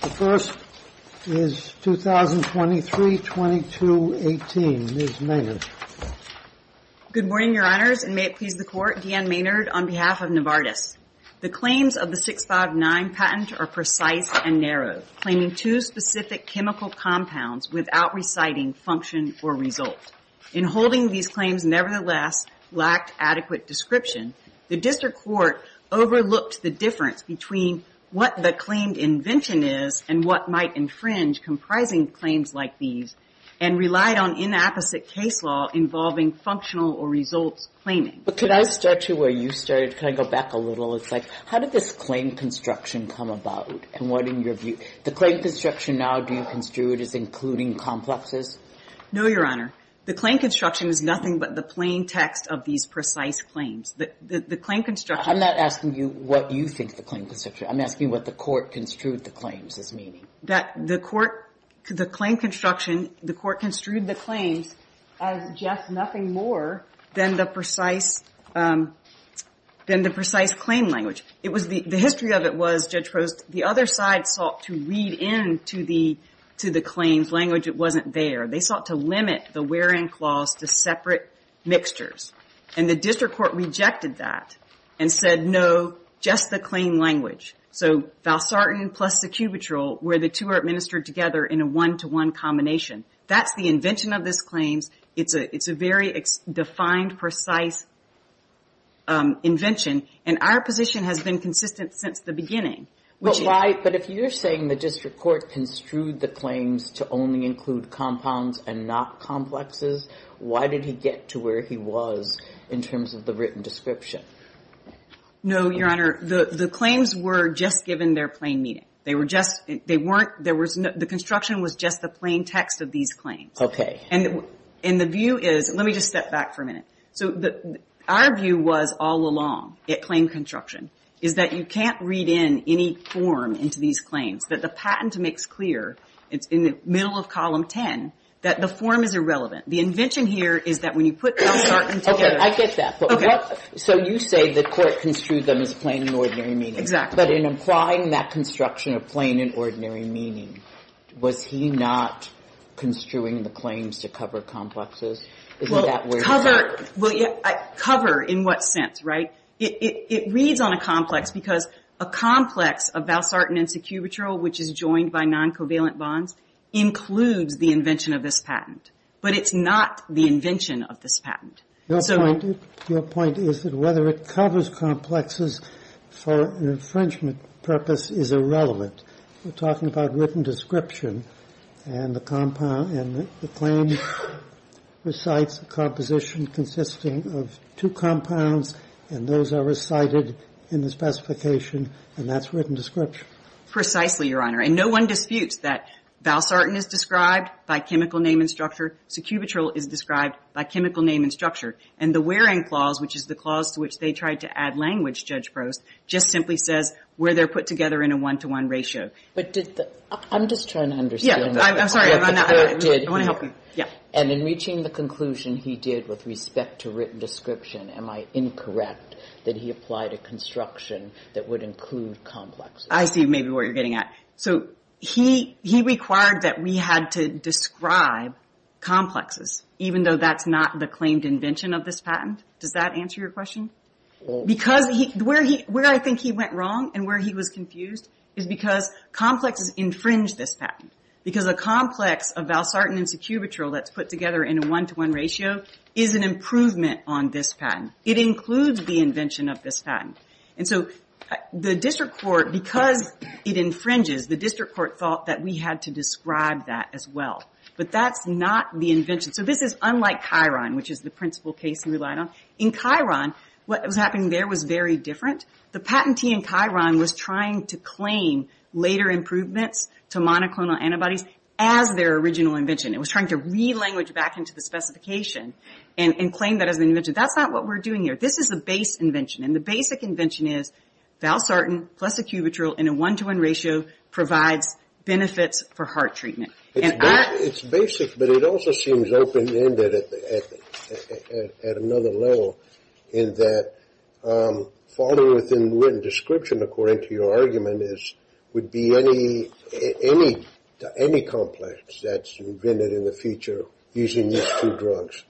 The first is 2023-2218. Ms. Maynard. Good morning, Your Honors, and may it please the Court, D. Ann Maynard on behalf of Novartis. The claims of the 659 patent are precise and narrow, claiming two specific chemical compounds without reciting function or result. In holding these claims, nevertheless, lacked adequate description. The District Court overlooked the difference between what the claimed invention is and what might infringe comprising claims like these, and relied on inapposite case law involving functional or results claiming. But could I start you where you started? Can I go back a little? It's like, how did this claim construction come about? And what in your view, the claim construction now, do you construe it as including complexes? No, Your Honor. The claim construction is nothing but the plain text of these precise claims. The claim construction. I'm not asking you what you think the claim construction is. I'm asking what the Court construed the claims as meaning. That the Court, the claim construction, the Court construed the claims as just nothing more than the precise, than the precise claim language. It was the, the history of it was, Judge Post, the other side sought to read in to the, to the claims language. It wasn't there. They sought to limit the wherein clause to separate mixtures. And the District Court rejected that and said, no, just the claim language. So, Valsartan plus Secubitrol, where the two are administered together in a one-to-one combination. That's the invention of this claims. It's a, it's a very defined, precise invention. And our position has been consistent since the beginning. But why, but if you're saying the District Court construed the claims to only include compounds and not complexes, why did he get to where he was in terms of the written description? No, Your Honor. The, the claims were just given their plain meaning. They were just, they weren't, there was no, the construction was just the plain text of these claims. Okay. And, and the view is, let me just step back for a minute. So the, our view was all along, at claim construction, is that you can't read in any form into these claims. That the patent makes clear, it's in the middle of Column 10, that the form is irrelevant. The invention here is that when you put Valsartan together. Okay. I get that. Okay. But what, so you say the Court construed them as plain and ordinary meaning. Exactly. But in applying that construction of plain and ordinary meaning, was he not construing the claims to cover complexes? Well, cover, well yeah, cover in what sense, right? It, it, it reads on a complex because a complex of Valsartan and Secubitrol, which is joined by non-covalent bonds, includes the invention of this patent. But it's not the invention of this patent. Your point, your point is that whether it covers complexes for an infringement purpose is irrelevant. We're talking about written description. And the compound, and the claim recites a composition consisting of two compounds. And those are recited in the specification. And that's written description. Precisely, Your Honor. And no one disputes that Valsartan is described by chemical name and structure. Secubitrol is described by chemical name and structure. And the wearing clause, which is the clause to which they tried to add language, Judge Prost, just simply says where they're put together in a one-to-one ratio. But did the, I'm just trying to understand. Yeah, I'm sorry. I want to help you. Yeah. And in reaching the conclusion he did with respect to written description, am I incorrect that he applied a construction that would include complexes? I see maybe where you're getting at. So he, he required that we had to describe complexes, even though that's not the claimed invention of this patent? Does that answer your question? Because where he, where I think he went wrong and where he was confused is because complexes infringe this patent. Because a complex of Valsartan and Secubitrol that's put together in a one-to-one ratio is an improvement on this patent. It includes the invention of this patent. And so the district court, because it infringes, the district court thought that we had to describe that as well. But that's not the invention. So this is unlike Chiron, which is the principal case he relied on. In Chiron, what was happening there was very different. The patentee in Chiron was trying to claim later improvements to monoclonal antibodies as their original invention. It was trying to re-language back into the specification and claim that as an invention. That's not what we're doing here. This is the base invention. And the basic invention is Valsartan plus Secubitrol in a one-to-one ratio provides benefits for heart treatment. It's basic, but it also seems open-ended at another level in that following within written description, according to your argument, would be any complex that's invented in the future using these two drugs.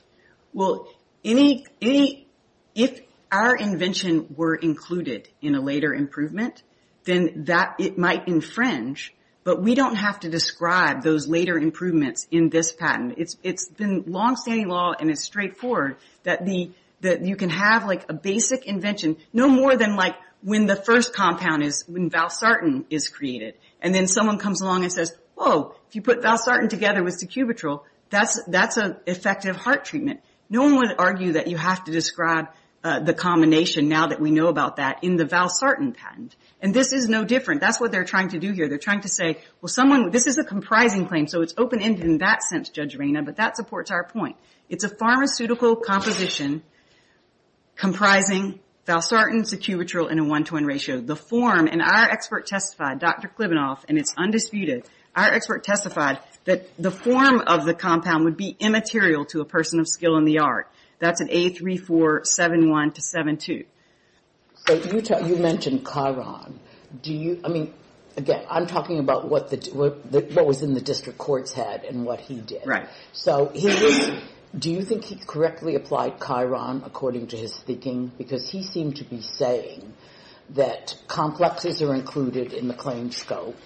Well, if our invention were included in a later improvement, then it might infringe. But we don't have to describe those later improvements in this patent. It's been long-standing law and it's straightforward that you can have a basic invention, no more than when the first compound, when Valsartan, is created. And then someone comes along and says, Whoa, if you put Valsartan together with Secubitrol, that's an effective heart treatment. No one would argue that you have to describe the combination, now that we know about that, in the Valsartan patent. And this is no different. That's what they're trying to do here. They're trying to say, well, someone, this is a comprising claim, so it's open-ended in that sense, Judge Reyna, but that supports our point. It's a pharmaceutical composition comprising Valsartan, Secubitrol, and a one-to-one ratio. The form, and our expert testified, Dr. Klibanoff, and it's undisputed, our expert testified that the form of the compound would be immaterial to a person of skill in the art. That's an A3471-72. So you mentioned Chiron. I mean, again, I'm talking about what was in the district court's head and what he did. So do you think he correctly applied Chiron according to his thinking? Because he seemed to be saying that complexes are included in the claim scope,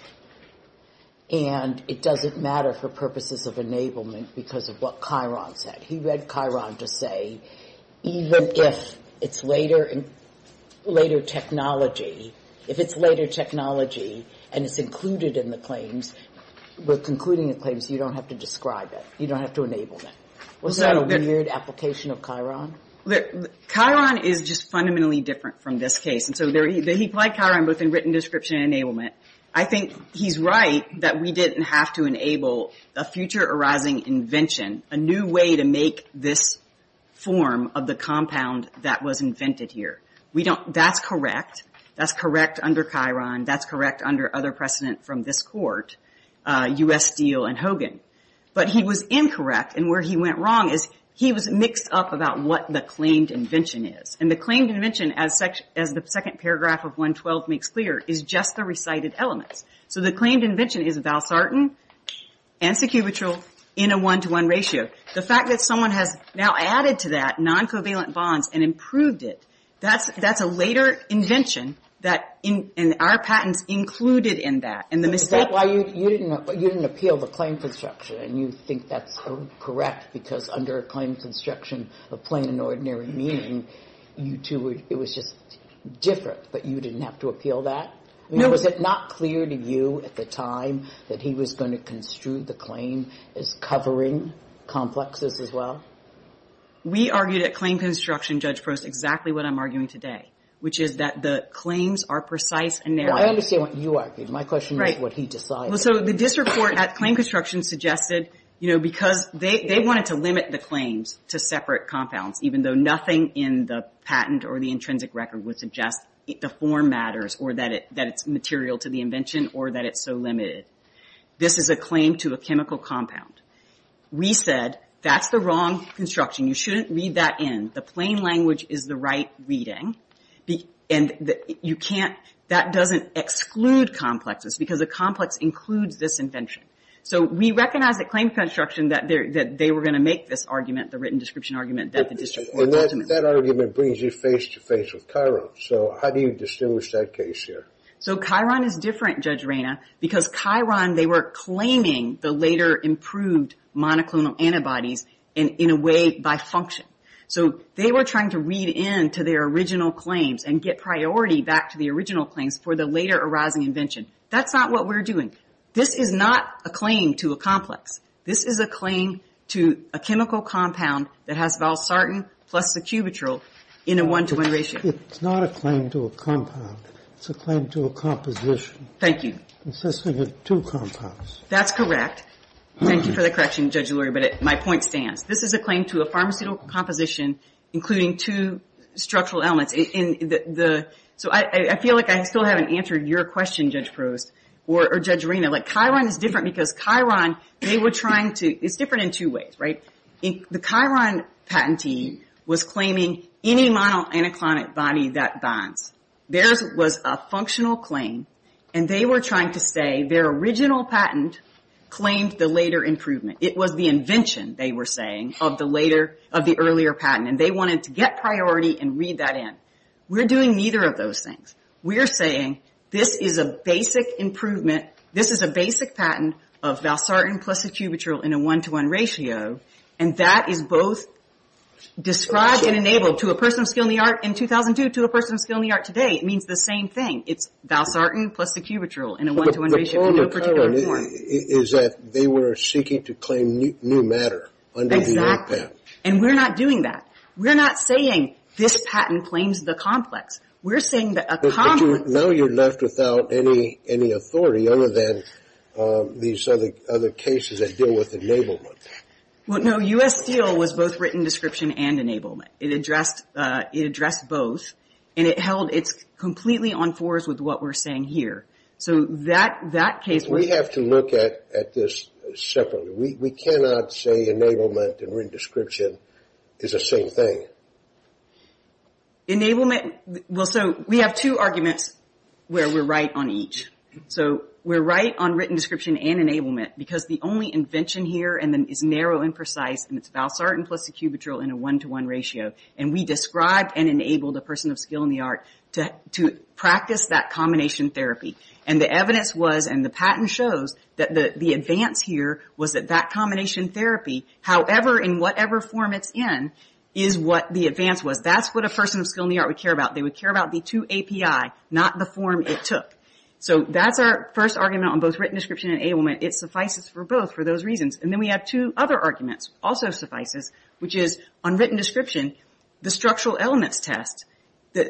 and it doesn't matter for purposes of enablement because of what Chiron said. He read Chiron to say, even if it's later technology, if it's later technology and it's included in the claims, we're concluding the claims, you don't have to describe it. You don't have to enable it. Was that a weird application of Chiron? Chiron is just fundamentally different from this case. He applied Chiron both in written description and enablement. I think he's right that we didn't have to enable a future arising invention, a new way to make this form of the compound that was invented here. That's correct. That's correct under Chiron. That's correct under other precedent from this court, U.S. Steele and Hogan. But he was incorrect, and where he went wrong is he was mixed up about what the claimed invention is. And the claimed invention, as the second paragraph of 112 makes clear, is just the recited elements. So the claimed invention is Valsartan and Secubitril in a one-to-one ratio. The fact that someone has now added to that non-covalent bonds and improved it, that's a later invention, and our patents included in that. Is that why you didn't appeal the claim construction, and you think that's correct because under a claim construction of plain and ordinary meaning, it was just different, but you didn't have to appeal that? No. Was it not clear to you at the time that he was going to construe the claim as covering complexes as well? We argued at claim construction, Judge Prost, exactly what I'm arguing today, which is that the claims are precise and narrow. I understand what you argued. My question is what he decided. So the disreport at claim construction suggested, you know, because they wanted to limit the claims to separate compounds, even though nothing in the patent or the intrinsic record would suggest the form matters or that it's material to the invention or that it's so limited. This is a claim to a chemical compound. We said that's the wrong construction. You shouldn't read that in. The plain language is the right reading, and you can't – that doesn't exclude complexes because a complex includes this invention. So we recognized at claim construction that they were going to make this argument, the written description argument, that the disreport documents. That argument brings you face-to-face with Chiron. So how do you distinguish that case here? So Chiron is different, Judge Reyna, because Chiron they were claiming the later improved monoclonal antibodies in a way by function. So they were trying to read into their original claims and get priority back to the original claims for the later arising invention. That's not what we're doing. This is not a claim to a complex. This is a claim to a chemical compound that has valsartan plus the cubitril in a one-to-one ratio. It's not a claim to a compound. It's a claim to a composition. Thank you. Consisting of two compounds. That's correct. Thank you for the correction, Judge Lurie, but my point stands. This is a claim to a pharmaceutical composition including two structural elements. So I feel like I still haven't answered your question, Judge Prost or Judge Reyna. Chiron is different because Chiron they were trying to... It's different in two ways, right? The Chiron patentee was claiming any monoclonal antibody that bonds. Theirs was a functional claim, and they were trying to say their original patent claimed the later improvement. It was the invention, they were saying, of the earlier patent, and they wanted to get priority and read that in. We're doing neither of those things. We're saying this is a basic improvement. This is a basic patent of valsartan plus the cubitril in a one-to-one ratio, and that is both described and enabled to a person of skill in the art in 2002, to a person of skill in the art today. It means the same thing. It's valsartan plus the cubitril in a one-to-one ratio in no particular form. The problem with Chiron is that they were seeking to claim new matter under the old patent. Exactly, and we're not doing that. We're not saying this patent claims the complex. We're saying that a complex. But now you're left without any authority other than these other cases that deal with enablement. Well, no, U.S. Steel was both written description and enablement. It addressed both, and it's completely on fours with what we're saying here. So that case was... We have to look at this separately. We cannot say enablement and written description is the same thing. Enablement... Well, so we have two arguments where we're right on each. So we're right on written description and enablement because the only invention here is narrow and precise, and it's valsartan plus the cubitril in a one-to-one ratio. And we described and enabled a person of skill in the art to practice that combination therapy. And the evidence was, and the patent shows, that the advance here was that that combination therapy, however, in whatever form it's in, is what the advance was. That's what a person of skill in the art would care about. They would care about the two API, not the form it took. So that's our first argument on both written description and enablement. It suffices for both for those reasons. And then we have two other arguments, also suffices, which is on written description, the structural elements test. The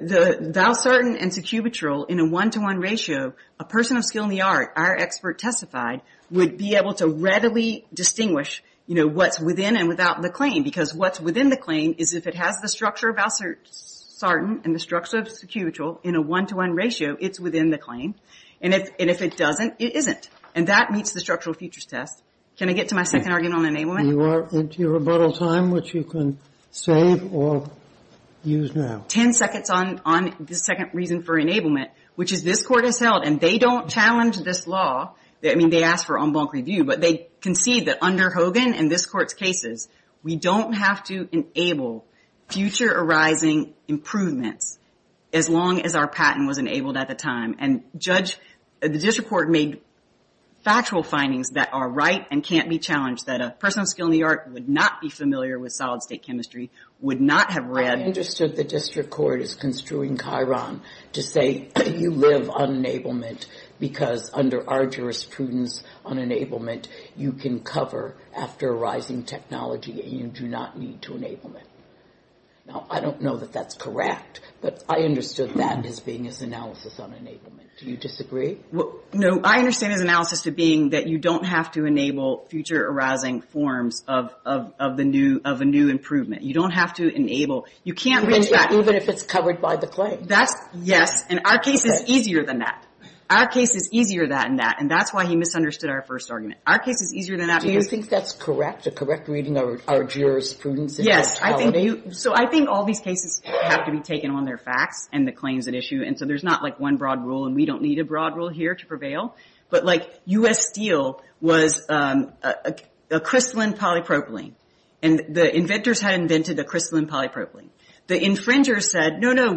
valsartan and cubitril in a one-to-one ratio, a person of skill in the art, our expert testified, would be able to readily distinguish, you know, what's within and without the claim because what's within the claim is if it has the structure of valsartan and the structure of cubitril in a one-to-one ratio, it's within the claim. And if it doesn't, it isn't. And that meets the structural features test. Can I get to my second argument on enablement? You are into your rebuttal time, which you can save or use now. Ten seconds on the second reason for enablement, which is this Court has held, and they don't challenge this law. I mean, they asked for en banc review, but they concede that under Hogan and this Court's cases, we don't have to enable future arising improvements as long as our patent was enabled at the time. And the district court made factual findings that are right and can't be challenged, that a person of skill in the art would not be familiar with solid-state chemistry, would not have read. I understood the district court is construing Chiron to say you live on enablement because under our jurisprudence on enablement, you can cover after arising technology and you do not need to enablement. Now, I don't know that that's correct, but I understood that as being its analysis on enablement. Do you disagree? No, I understand his analysis to being that you don't have to enable future arising forms of a new improvement. You don't have to enable. You can't retract. Even if it's covered by the claim. Yes, and our case is easier than that. Our case is easier than that, and that's why he misunderstood our first argument. Our case is easier than that. Do you think that's correct, the correct reading of our jurisprudence? Yes. So I think all these cases have to be taken on their facts and the claims at issue, and so there's not, like, one broad rule, and we don't need a broad rule here to prevail. But, like, U.S. Steel was a crystalline polypropylene, and the inventors had invented a crystalline polypropylene. The infringers said, no, no,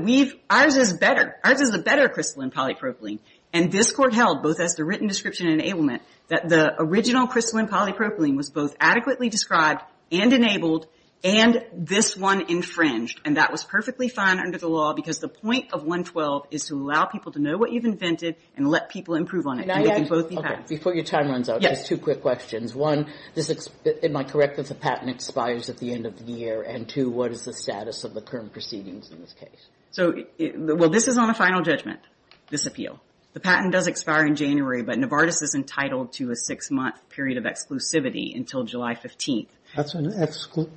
ours is better. Ours is a better crystalline polypropylene, and this Court held, both as to written description and enablement, that the original crystalline polypropylene was both adequately described and enabled and this one infringed, and that was perfectly fine under the law because the point of 112 is to allow people to know what you've invented and let people improve on it. Before your time runs out, just two quick questions. One, am I correct that the patent expires at the end of the year? And, two, what is the status of the current proceedings in this case? So, well, this is on a final judgment, this appeal. The patent does expire in January, but Novartis is entitled to a six-month period of exclusivity until July 15th. That's an FDA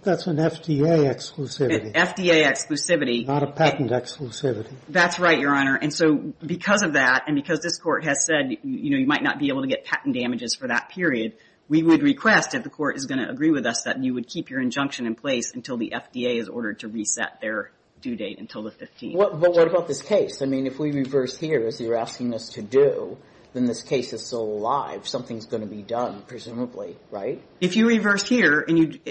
exclusivity. FDA exclusivity. Not a patent exclusivity. That's right, Your Honor. And so because of that and because this Court has said, you know, you might not be able to get patent damages for that period, we would request, if the Court is going to agree with us, that you would keep your injunction in place until the FDA is ordered to reset their due date until the 15th. But what about this case? I mean, if we reverse here, as you're asking us to do, then this case is still alive. Something's going to be done, presumably, right? If you reverse here,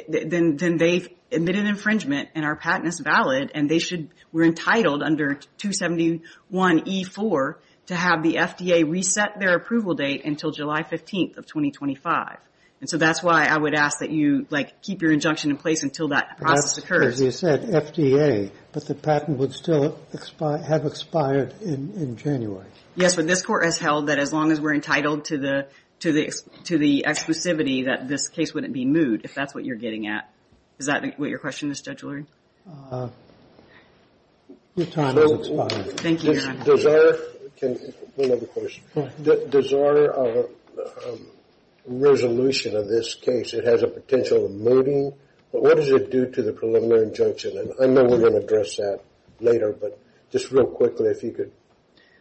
then they've admitted infringement and our patent is valid and they should be entitled under 271E4 to have the FDA reset their approval date until July 15th of 2025. And so that's why I would ask that you, like, process occurs. As you said, FDA. But the patent would still have expired in January. Yes, but this Court has held that as long as we're entitled to the exclusivity, that this case wouldn't be moot, if that's what you're getting at. Is that what your question is, Judge Lurie? Your time has expired. Thank you, Your Honor. Does our resolution of this case, it has a potential of mooting? But what does it do to the preliminary injunction? And I know we're going to address that later, but just real quickly, if you could.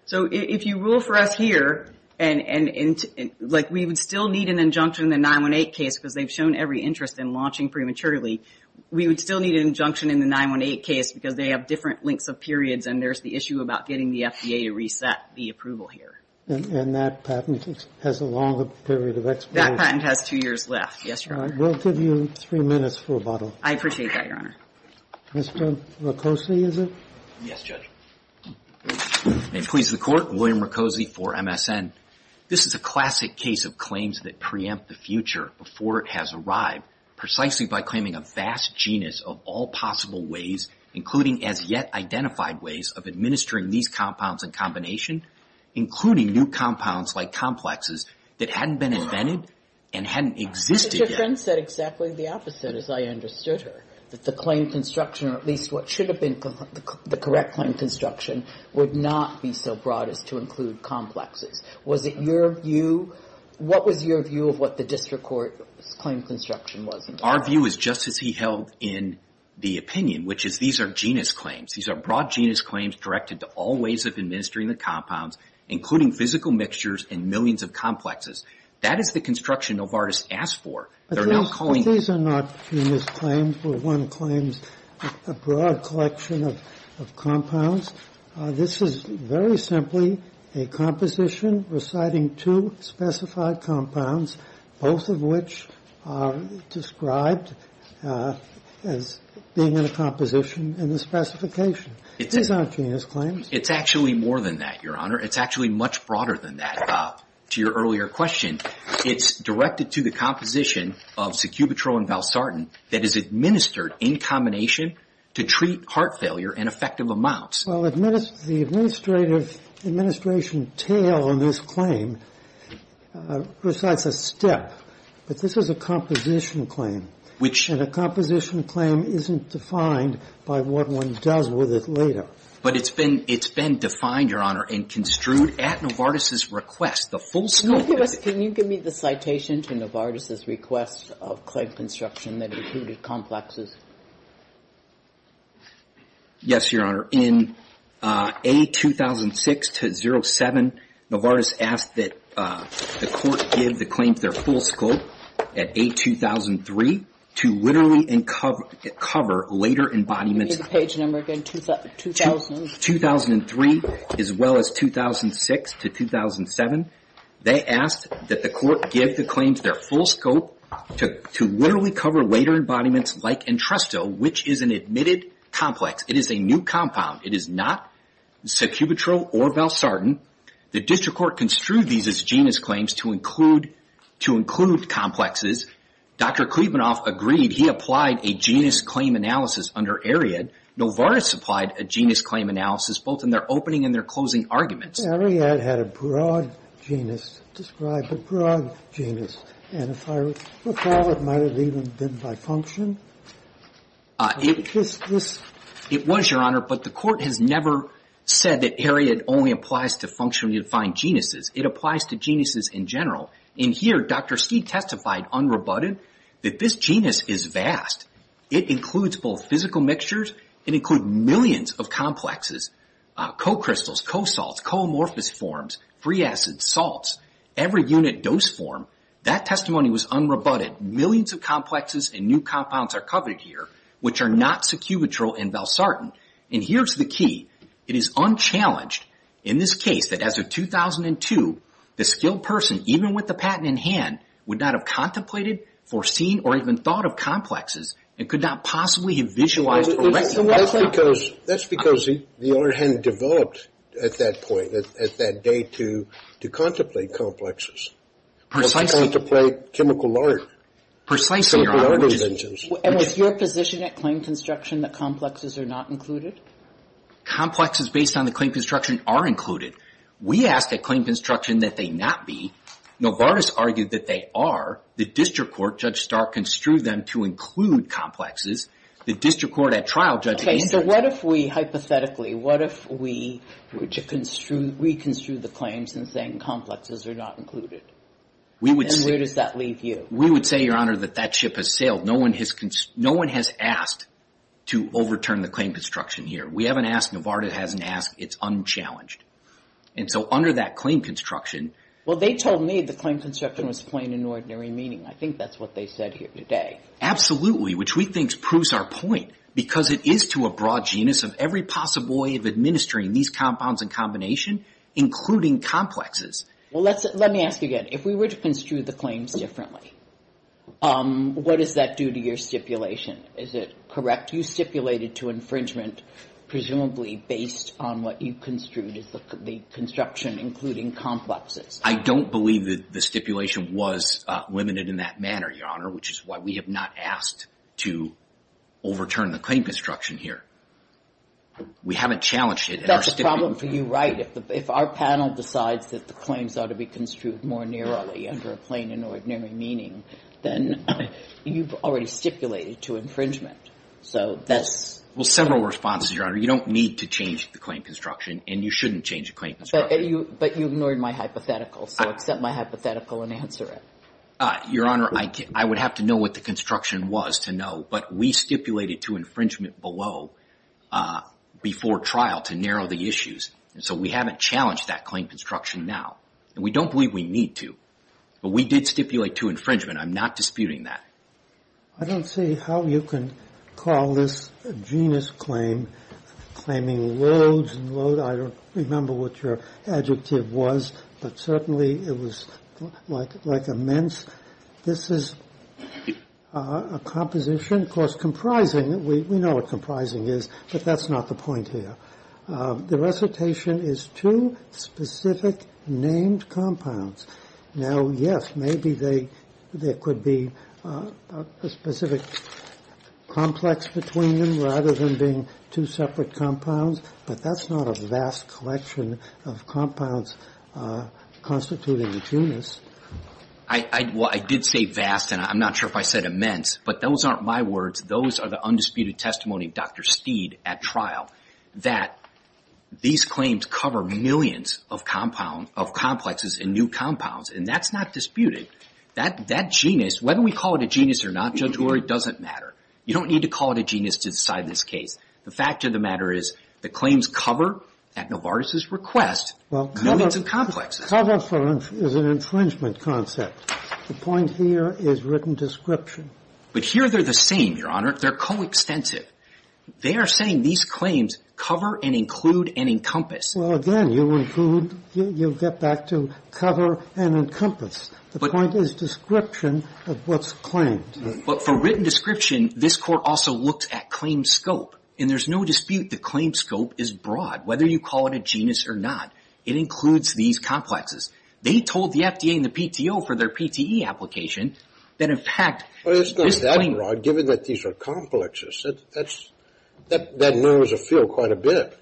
So if you rule for us here, like, we would still need an injunction in the 918 case because they've shown every interest in launching prematurely. We would still need an injunction in the 918 case because they have different lengths of periods and there's the issue about getting the FDA to reset the approval here. And that patent has a longer period of expiration. That patent has two years left. Yes, Your Honor. We'll give you three minutes for rebuttal. I appreciate that, Your Honor. Mr. Roccozzi, is it? Yes, Judge. May it please the Court, William Roccozzi for MSN. This is a classic case of claims that preempt the future before it has arrived precisely by claiming a vast genus of all possible ways, including as yet identified ways, of administering these compounds in combination, including new compounds like complexes that hadn't been invented and hadn't existed yet. Ms. Trent said exactly the opposite, as I understood her, that the claim construction, or at least what should have been the correct claim construction, would not be so broad as to include complexes. Was it your view? What was your view of what the district court's claim construction was? Our view is just as he held in the opinion, which is these are genus claims. These are broad genus claims directed to all ways of administering the compounds, including physical mixtures and millions of complexes. That is the construction Novartis asked for. These are not genus claims where one claims a broad collection of compounds. This is very simply a composition reciting two specified compounds, both of which are described as being in a composition in the specification. These aren't genus claims. It's actually more than that, Your Honor. It's actually much broader than that. To your earlier question, it's directed to the composition of Secubitrol and Valsartan that is administered in combination to treat heart failure in effective amounts. Well, the administration tale in this claim recites a step, but this is a composition claim. And a composition claim isn't defined by what one does with it later. But it's been defined, Your Honor, and construed at Novartis' request. The full scope of it. Can you give me the citation to Novartis' request of claim construction that included complexes? Yes, Your Honor. In A2006-07, Novartis asked that the Court give the claims their full scope at A2003 to literally cover later embodiments. Can you give me the page number again? 2003 as well as 2006-07. They asked that the Court give the claims their full scope to literally cover later embodiments like Entresto, which is an admitted complex. It is a new compound. It is not Secubitrol or Valsartan. The District Court construed these as genus claims to include complexes. Dr. Klebanoff agreed. He applied a genus claim analysis under Ariad. Novartis applied a genus claim analysis both in their opening and their closing arguments. Ariad had a broad genus, described a broad genus. And if I recall, it might have even been by function. It was, Your Honor, but the Court has never said that Ariad only applies to functionally defined genuses. It applies to genuses in general. In here, Dr. Stee testified unrebutted that this genus is vast. It includes both physical mixtures. It includes millions of complexes, co-crystals, co-salts, co-amorphous forms, free acids, salts. Every unit dose form, that testimony was unrebutted. Millions of complexes and new compounds are covered here, which are not Secubitrol and Valsartan. And here's the key. It is unchallenged in this case that as of 2002, the skilled person, even with the patent in hand, would not have contemplated, foreseen, or even thought of complexes and could not possibly have visualized or recognized them. That's because the order hadn't developed at that point, at that date, to contemplate complexes. Precisely. Or to contemplate chemical art. Precisely, Your Honor. Chemical art inventions. And was your position at claim construction that complexes are not included? Complexes based on the claim construction are included. We ask at claim construction that they not be. Novartis argued that they are. The district court, Judge Stark, construed them to include complexes. The district court at trial, Judge Ainsworth. Okay. So what if we, hypothetically, what if we were to reconstrue the claims and saying complexes are not included? We would say. And where does that leave you? We would say, Your Honor, that that ship has sailed. No one has asked to overturn the claim construction here. We haven't asked. Novartis hasn't asked. It's unchallenged. And so under that claim construction. Well, they told me the claim construction was plain and ordinary meaning. I think that's what they said here today. Absolutely, which we think proves our point. Because it is to a broad genus of every possible way of administering these compounds and combination, including complexes. Well, let me ask you again. If we were to construe the claims differently, what does that do to your stipulation? Is it correct? You stipulated to infringement presumably based on what you construed as the construction, including complexes. I don't believe that the stipulation was limited in that manner, Your Honor, which is why we have not asked to overturn the claim construction here. We haven't challenged it. That's a problem for you, right? If our panel decides that the claims ought to be construed more narrowly under a plain and ordinary meaning, then you've already stipulated to infringement. So that's. Well, several responses, Your Honor. You don't need to change the claim construction and you shouldn't change the claim construction. But you ignored my hypothetical. So accept my hypothetical and answer it. Your Honor, I would have to know what the construction was to know. But we stipulated to infringement below before trial to narrow the issues. And so we haven't challenged that claim construction now. And we don't believe we need to. But we did stipulate to infringement. I'm not disputing that. I don't see how you can call this a genus claim, claiming loads and loads. I don't remember what your adjective was, but certainly it was like immense. This is a composition, of course, comprising. We know what comprising is, but that's not the point here. The recitation is two specific named compounds. Now, yes, maybe there could be a specific complex between them rather than being two separate compounds, but that's not a vast collection of compounds constituting a genus. Well, I did say vast, and I'm not sure if I said immense. But those aren't my words. Those are the undisputed testimony of Dr. Steed at trial. That these claims cover millions of compound of complexes and new compounds. And that's not disputed. That genus, whether we call it a genus or not, Judge Hulery, doesn't matter. You don't need to call it a genus to decide this case. The fact of the matter is the claims cover, at Novartis' request, millions of complexes. Well, cover is an infringement concept. The point here is written description. But here they're the same, Your Honor. They're coextensive. They are saying these claims cover and include and encompass. Well, again, you include, you get back to cover and encompass. The point is description of what's claimed. But for written description, this Court also looked at claim scope. And there's no dispute the claim scope is broad, whether you call it a genus or not. It includes these complexes. They told the FDA and the PTO for their PTE application that, in fact, this claim broad, given that these are complexes, that knows a field quite a bit.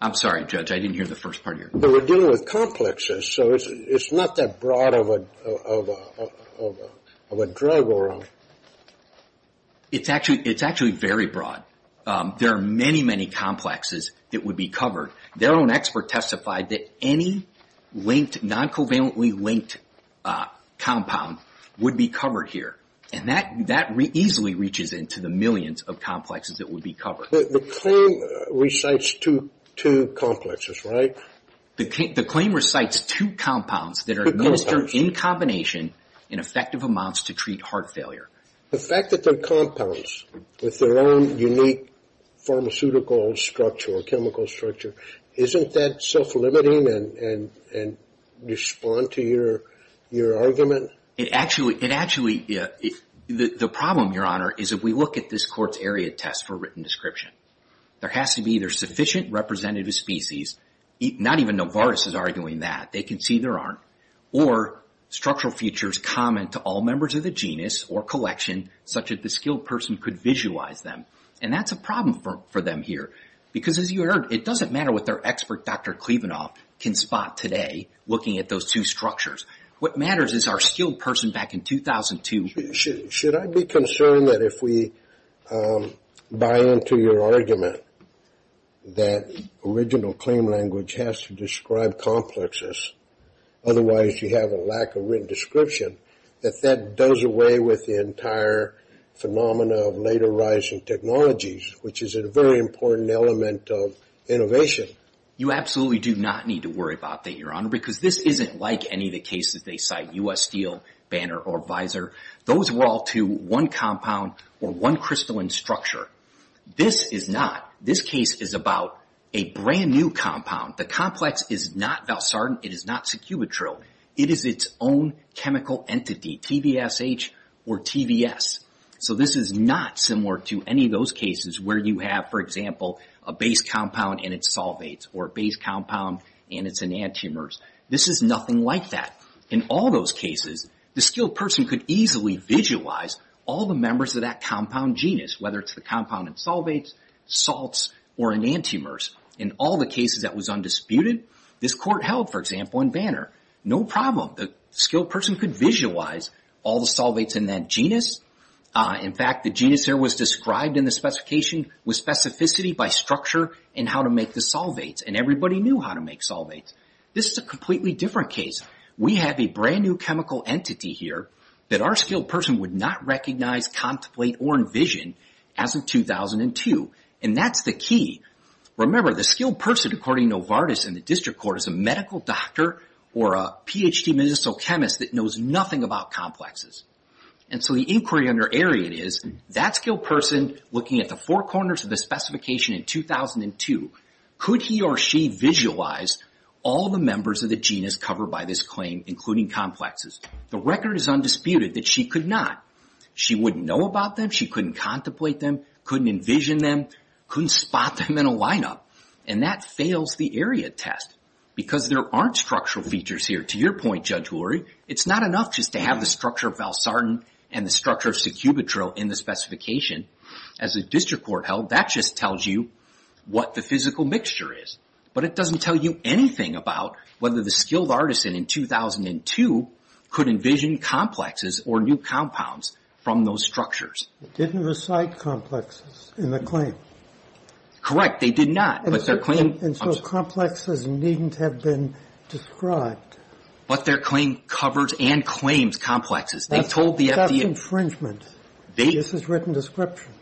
I'm sorry, Judge. I didn't hear the first part of your question. But we're dealing with complexes. So it's not that broad of a drug, Your Honor. It's actually very broad. There are many, many complexes that would be covered. Their own expert testified that any linked, non-covalently linked compound would be covered here. And that easily reaches into the millions of complexes that would be covered. The claim recites two complexes, right? The claim recites two compounds that are administered in combination in effective amounts to treat heart failure. The fact that they're compounds with their own unique pharmaceutical structure or chemical structure, isn't that self-limiting and respond to your argument? The problem, Your Honor, is if we look at this court's area test for written description. There has to be either sufficient representative species. Not even Novartis is arguing that. They can see there aren't. Or structural features common to all members of the genus or collection, such that the skilled person could visualize them. And that's a problem for them here. Because, as you heard, it doesn't matter what their expert, Dr. Klevenoff, can spot today looking at those two structures. What matters is our skilled person back in 2002. Should I be concerned that if we buy into your argument that original claim language has to describe complexes, otherwise you have a lack of written description, that that does away with the entire phenomena of later rising technologies, which is a very important element of innovation? You absolutely do not need to worry about that, Your Honor, because this isn't like any of the cases they cite, U.S. Steel, Banner, or Visor. Those were all to one compound or one crystalline structure. This is not. This case is about a brand new compound. The complex is not Valsartan. It is not Secubitryl. It is its own chemical entity, TVSH or TVS. So this is not similar to any of those cases where you have, for example, a base compound and its solvates, or a base compound and its enantiomers. This is nothing like that. In all those cases, the skilled person could easily visualize all the members of that compound genus, whether it's the compound and solvates, salts, or enantiomers. In all the cases that was undisputed, this court held, for example, in Banner, no problem. The skilled person could visualize all the solvates in that genus. In fact, the genus there was described in the specification with specificity by structure and how to make the solvates, and everybody knew how to make solvates. This is a completely different case. We have a brand new chemical entity here that our skilled person would not recognize, contemplate, or envision as of 2002, and that's the key. Remember, the skilled person, according to Novartis in the district court, is a medical doctor or a Ph.D. medicinal chemist that knows nothing about complexes. And so the inquiry under Arian is, that skilled person, looking at the four corners of the specification in 2002, could he or she visualize all the members of the genus covered by this claim, including complexes? The record is undisputed that she could not. She wouldn't know about them. She couldn't contemplate them. Couldn't envision them. Couldn't spot them in a lineup. And that fails the area test, because there aren't structural features here. To your point, Judge Hulery, it's not enough just to have the structure of Valsartan and the structure of Secubitril in the specification. As the district court held, that just tells you what the physical mixture is. But it doesn't tell you anything about whether the skilled artisan in 2002 could envision complexes or new compounds from those structures. They didn't recite complexes in the claim. Correct. They did not. And so complexes needn't have been described. But their claim covers and claims complexes. That's infringement. This is written description.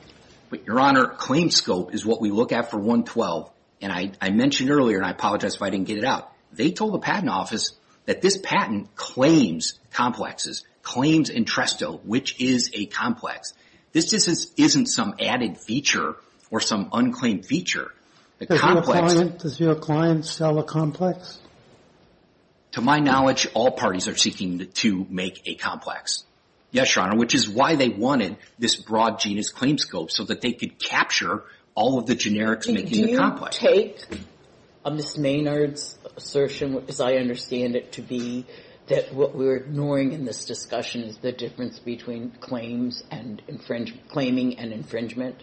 But, Your Honor, claim scope is what we look at for 112. And I mentioned earlier, and I apologize if I didn't get it out, they told the patent office that this patent claims complexes, claims entresto, which is a complex. This isn't some added feature or some unclaimed feature. Does your client sell a complex? To my knowledge, all parties are seeking to make a complex. Yes, Your Honor, which is why they wanted this broad genus claim scope, so that they could capture all of the generics making the complex. I take Ms. Maynard's assertion, as I understand it to be, that what we're ignoring in this discussion is the difference between claims and claiming and infringement,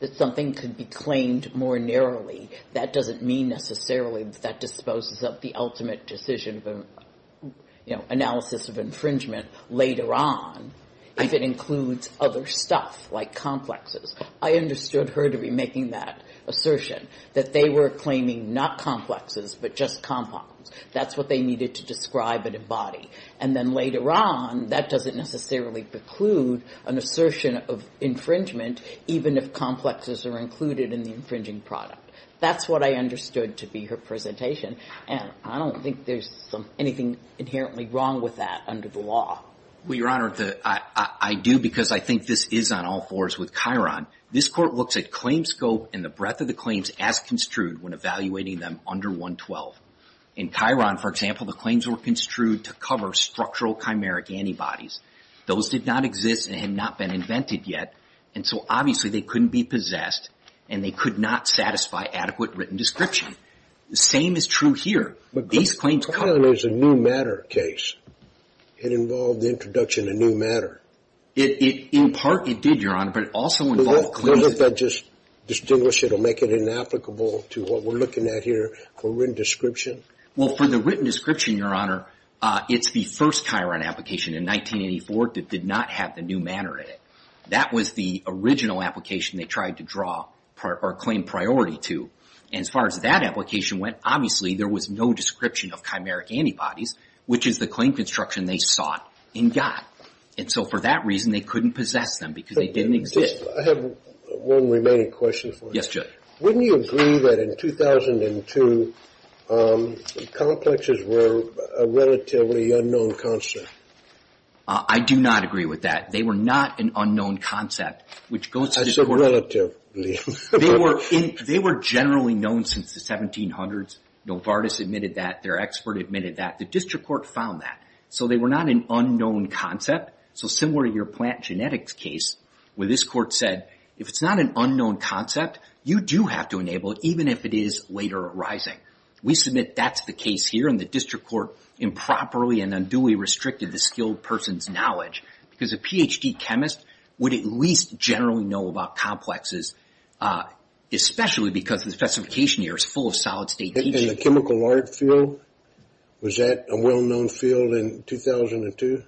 that something could be claimed more narrowly. That doesn't mean necessarily that that disposes of the ultimate decision of analysis of infringement later on, if it includes other stuff like complexes. I understood her to be making that assertion, that they were claiming not complexes, but just compounds. That's what they needed to describe and embody. And then later on, that doesn't necessarily preclude an assertion of infringement, even if complexes are included in the infringing product. That's what I understood to be her presentation. And I don't think there's anything inherently wrong with that under the law. Well, Your Honor, I do because I think this is on all fours with Chiron. This Court looks at claim scope and the breadth of the claims as construed when evaluating them under 112. In Chiron, for example, the claims were construed to cover structural chimeric antibodies. Those did not exist and had not been invented yet, and so obviously they couldn't be possessed and they could not satisfy adequate written description. The same is true here. Chiron is a new matter case. It involved the introduction of new matter. In part, it did, Your Honor, but it also involved claims. Doesn't that just distinguish it or make it inapplicable to what we're looking at here for written description? Well, for the written description, Your Honor, it's the first Chiron application in 1984 that did not have the new matter in it. That was the original application they tried to draw or claim priority to. And as far as that application went, obviously there was no description of chimeric antibodies, which is the claim construction they sought and got. And so for that reason, they couldn't possess them because they didn't exist. I have one remaining question for you. Yes, Judge. Wouldn't you agree that in 2002, complexes were a relatively unknown concept? I do not agree with that. They were not an unknown concept, which goes to this Court. I said relatively. They were generally known since the 1700s. Novartis admitted that. Their expert admitted that. The district court found that. So they were not an unknown concept. So similar to your plant genetics case, where this court said, if it's not an unknown concept, you do have to enable it, even if it is later arising. We submit that's the case here, and the district court improperly and unduly restricted the skilled person's knowledge because a Ph.D. chemist would at least generally know about complexes, especially because the specification here is full of solid-state teaching. And the chemical art field, was that a well-known field in 2002?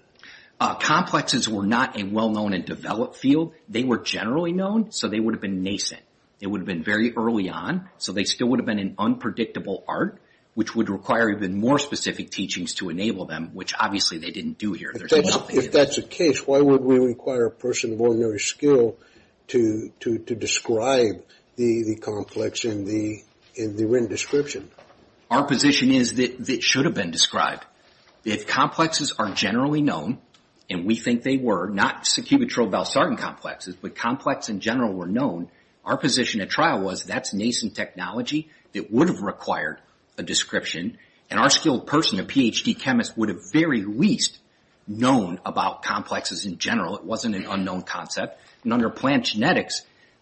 Complexes were not a well-known and developed field. They were generally known, so they would have been nascent. It would have been very early on, so they still would have been an unpredictable art, which would require even more specific teachings to enable them, which obviously they didn't do here. If that's the case, why would we require a person of ordinary skill to describe the complex in the written description? Our position is that it should have been described. If complexes are generally known, and we think they were, not sacubitryl-balsartan complexes, but complex in general were known, our position at trial was that's nascent technology that would have required a description, and our skilled person, a Ph.D. chemist, would have very least known about complexes in general. It wasn't an unknown concept. And under plant genetics,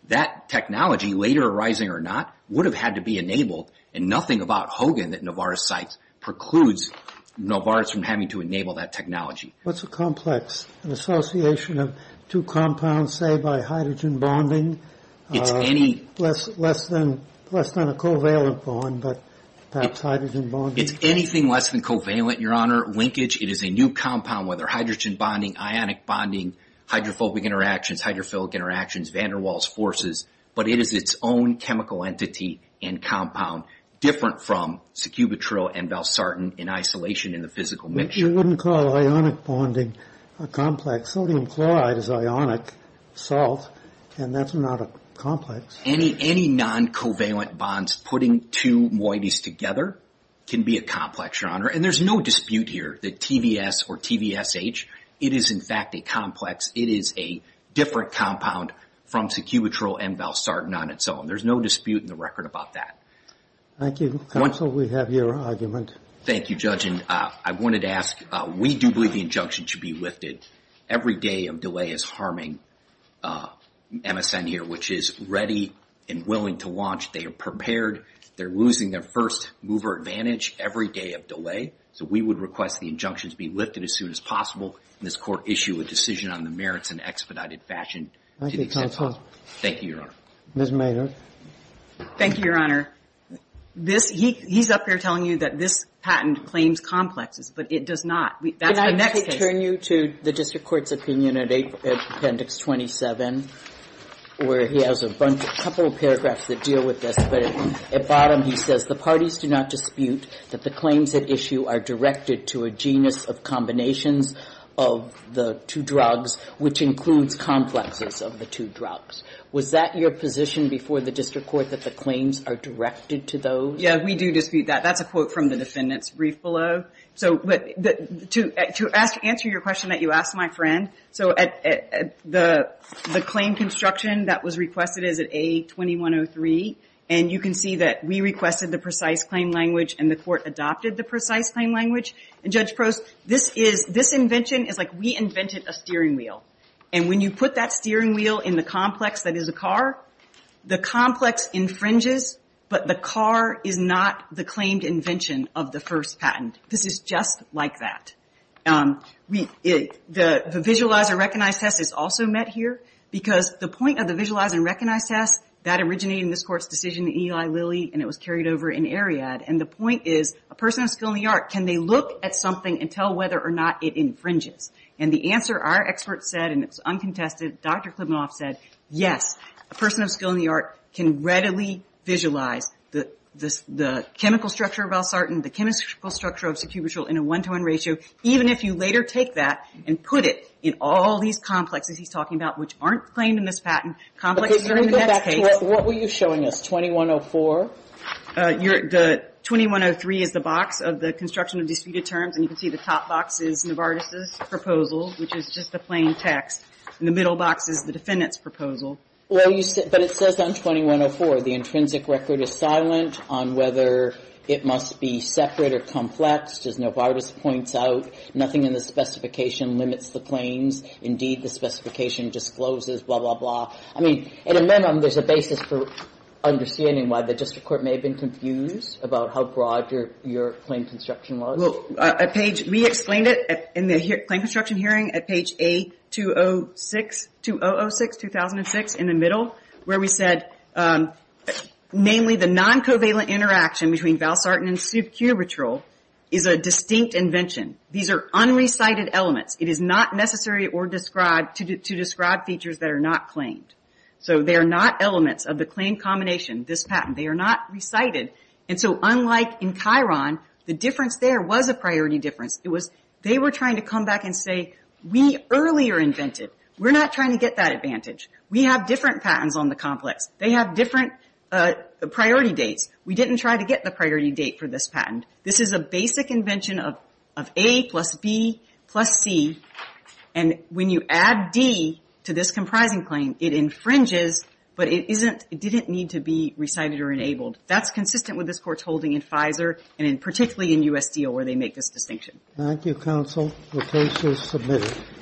that technology, later arising or not, would have had to be enabled, and nothing about Hogan that Novartis cites precludes Novartis from having to enable that technology. What's a complex? An association of two compounds, say, by hydrogen bonding? It's any... It's less than a covalent bond, but perhaps hydrogen bonding. It's anything less than covalent, Your Honor. Linkage, it is a new compound, whether hydrogen bonding, ionic bonding, hydrophobic interactions, hydrophilic interactions, Van der Waals forces, but it is its own chemical entity and compound, different from sacubitryl and balsartan in isolation in the physical mixture. You wouldn't call ionic bonding a complex. Sodium chloride is ionic salt, and that's not a complex. Any non-covalent bonds putting two moieties together can be a complex, Your Honor. And there's no dispute here that TVS or TVSH, it is in fact a complex. It is a different compound from sacubitryl and balsartan on its own. There's no dispute in the record about that. Thank you. Counsel, we have your argument. Thank you, Judge. We do believe the injunction should be lifted. Every day of delay is harming MSN here, which is ready and willing to launch. They are prepared. They're losing their first mover advantage every day of delay, so we would request the injunction to be lifted as soon as possible and this Court issue a decision on the merits in expedited fashion. Thank you, Counsel. Thank you, Your Honor. Ms. Maynard. Thank you, Your Honor. He's up here telling you that this patent claims complexes, but it does not. That's the next case. Can I turn you to the district court's opinion at Appendix 27, where he has a couple of paragraphs that deal with this, but at the bottom he says the parties do not dispute that the claims at issue are directed to a genus of combinations of the two drugs, which includes complexes of the two drugs. Was that your position before the district court that the claims are directed to those? Yeah, we do dispute that. That's a quote from the defendant's brief below. To answer your question that you asked, my friend, the claim construction that was requested is at A2103, and you can see that we requested the precise claim language and the Court adopted the precise claim language. And, Judge Prost, this invention is like we invented a steering wheel, and when you put that steering wheel in the complex that is a car, the complex infringes, but the car is not the claimed invention of the first patent. This is just like that. The visualize and recognize test is also met here, because the point of the visualize and recognize test, that originated in this Court's decision in Eli Lilly, and it was carried over in Ariad, and the point is a person of skill in the art, can they look at something and tell whether or not it infringes? And the answer our experts said, and it's uncontested, Dr. Klibanoff said, yes, a person of skill in the art can readily visualize the chemical structure of balsartan, the chemical structure of succubitril in a one-to-one ratio, even if you later take that and put it in all these complexes he's talking about, which aren't claimed in this patent. Complexes are in the next case. What were you showing us, 2104? 2103 is the box of the construction of disputed terms, and you can see the top box is Novartis's proposal, which is just the plain text, and the middle box is the defendant's proposal. Well, but it says on 2104, the intrinsic record is silent on whether it must be separate or complex, as Novartis points out. Nothing in the specification limits the claims. Indeed, the specification discloses, blah, blah, blah. I mean, at a minimum, there's a basis for understanding why the district court may have been confused about how broad your claim construction was. We explained it in the claim construction hearing at page A2006, 2006, in the middle, where we said, namely, the non-covalent interaction between balsartan and succubitril is a distinct invention. These are unrecited elements. It is not necessary to describe features that are not claimed. So they are not elements of the claim combination, this patent. They are not recited. And so unlike in Chiron, the difference there was a priority difference. It was they were trying to come back and say, we earlier invented. We're not trying to get that advantage. We have different patents on the complex. They have different priority dates. We didn't try to get the priority date for this patent. This is a basic invention of A plus B plus C, and when you add D to this comprising claim, it infringes, but it didn't need to be recited or enabled. That's consistent with this Court's holding in Pfizer, and particularly in USDO, where they make this distinction. Thank you, counsel. The case is submitted.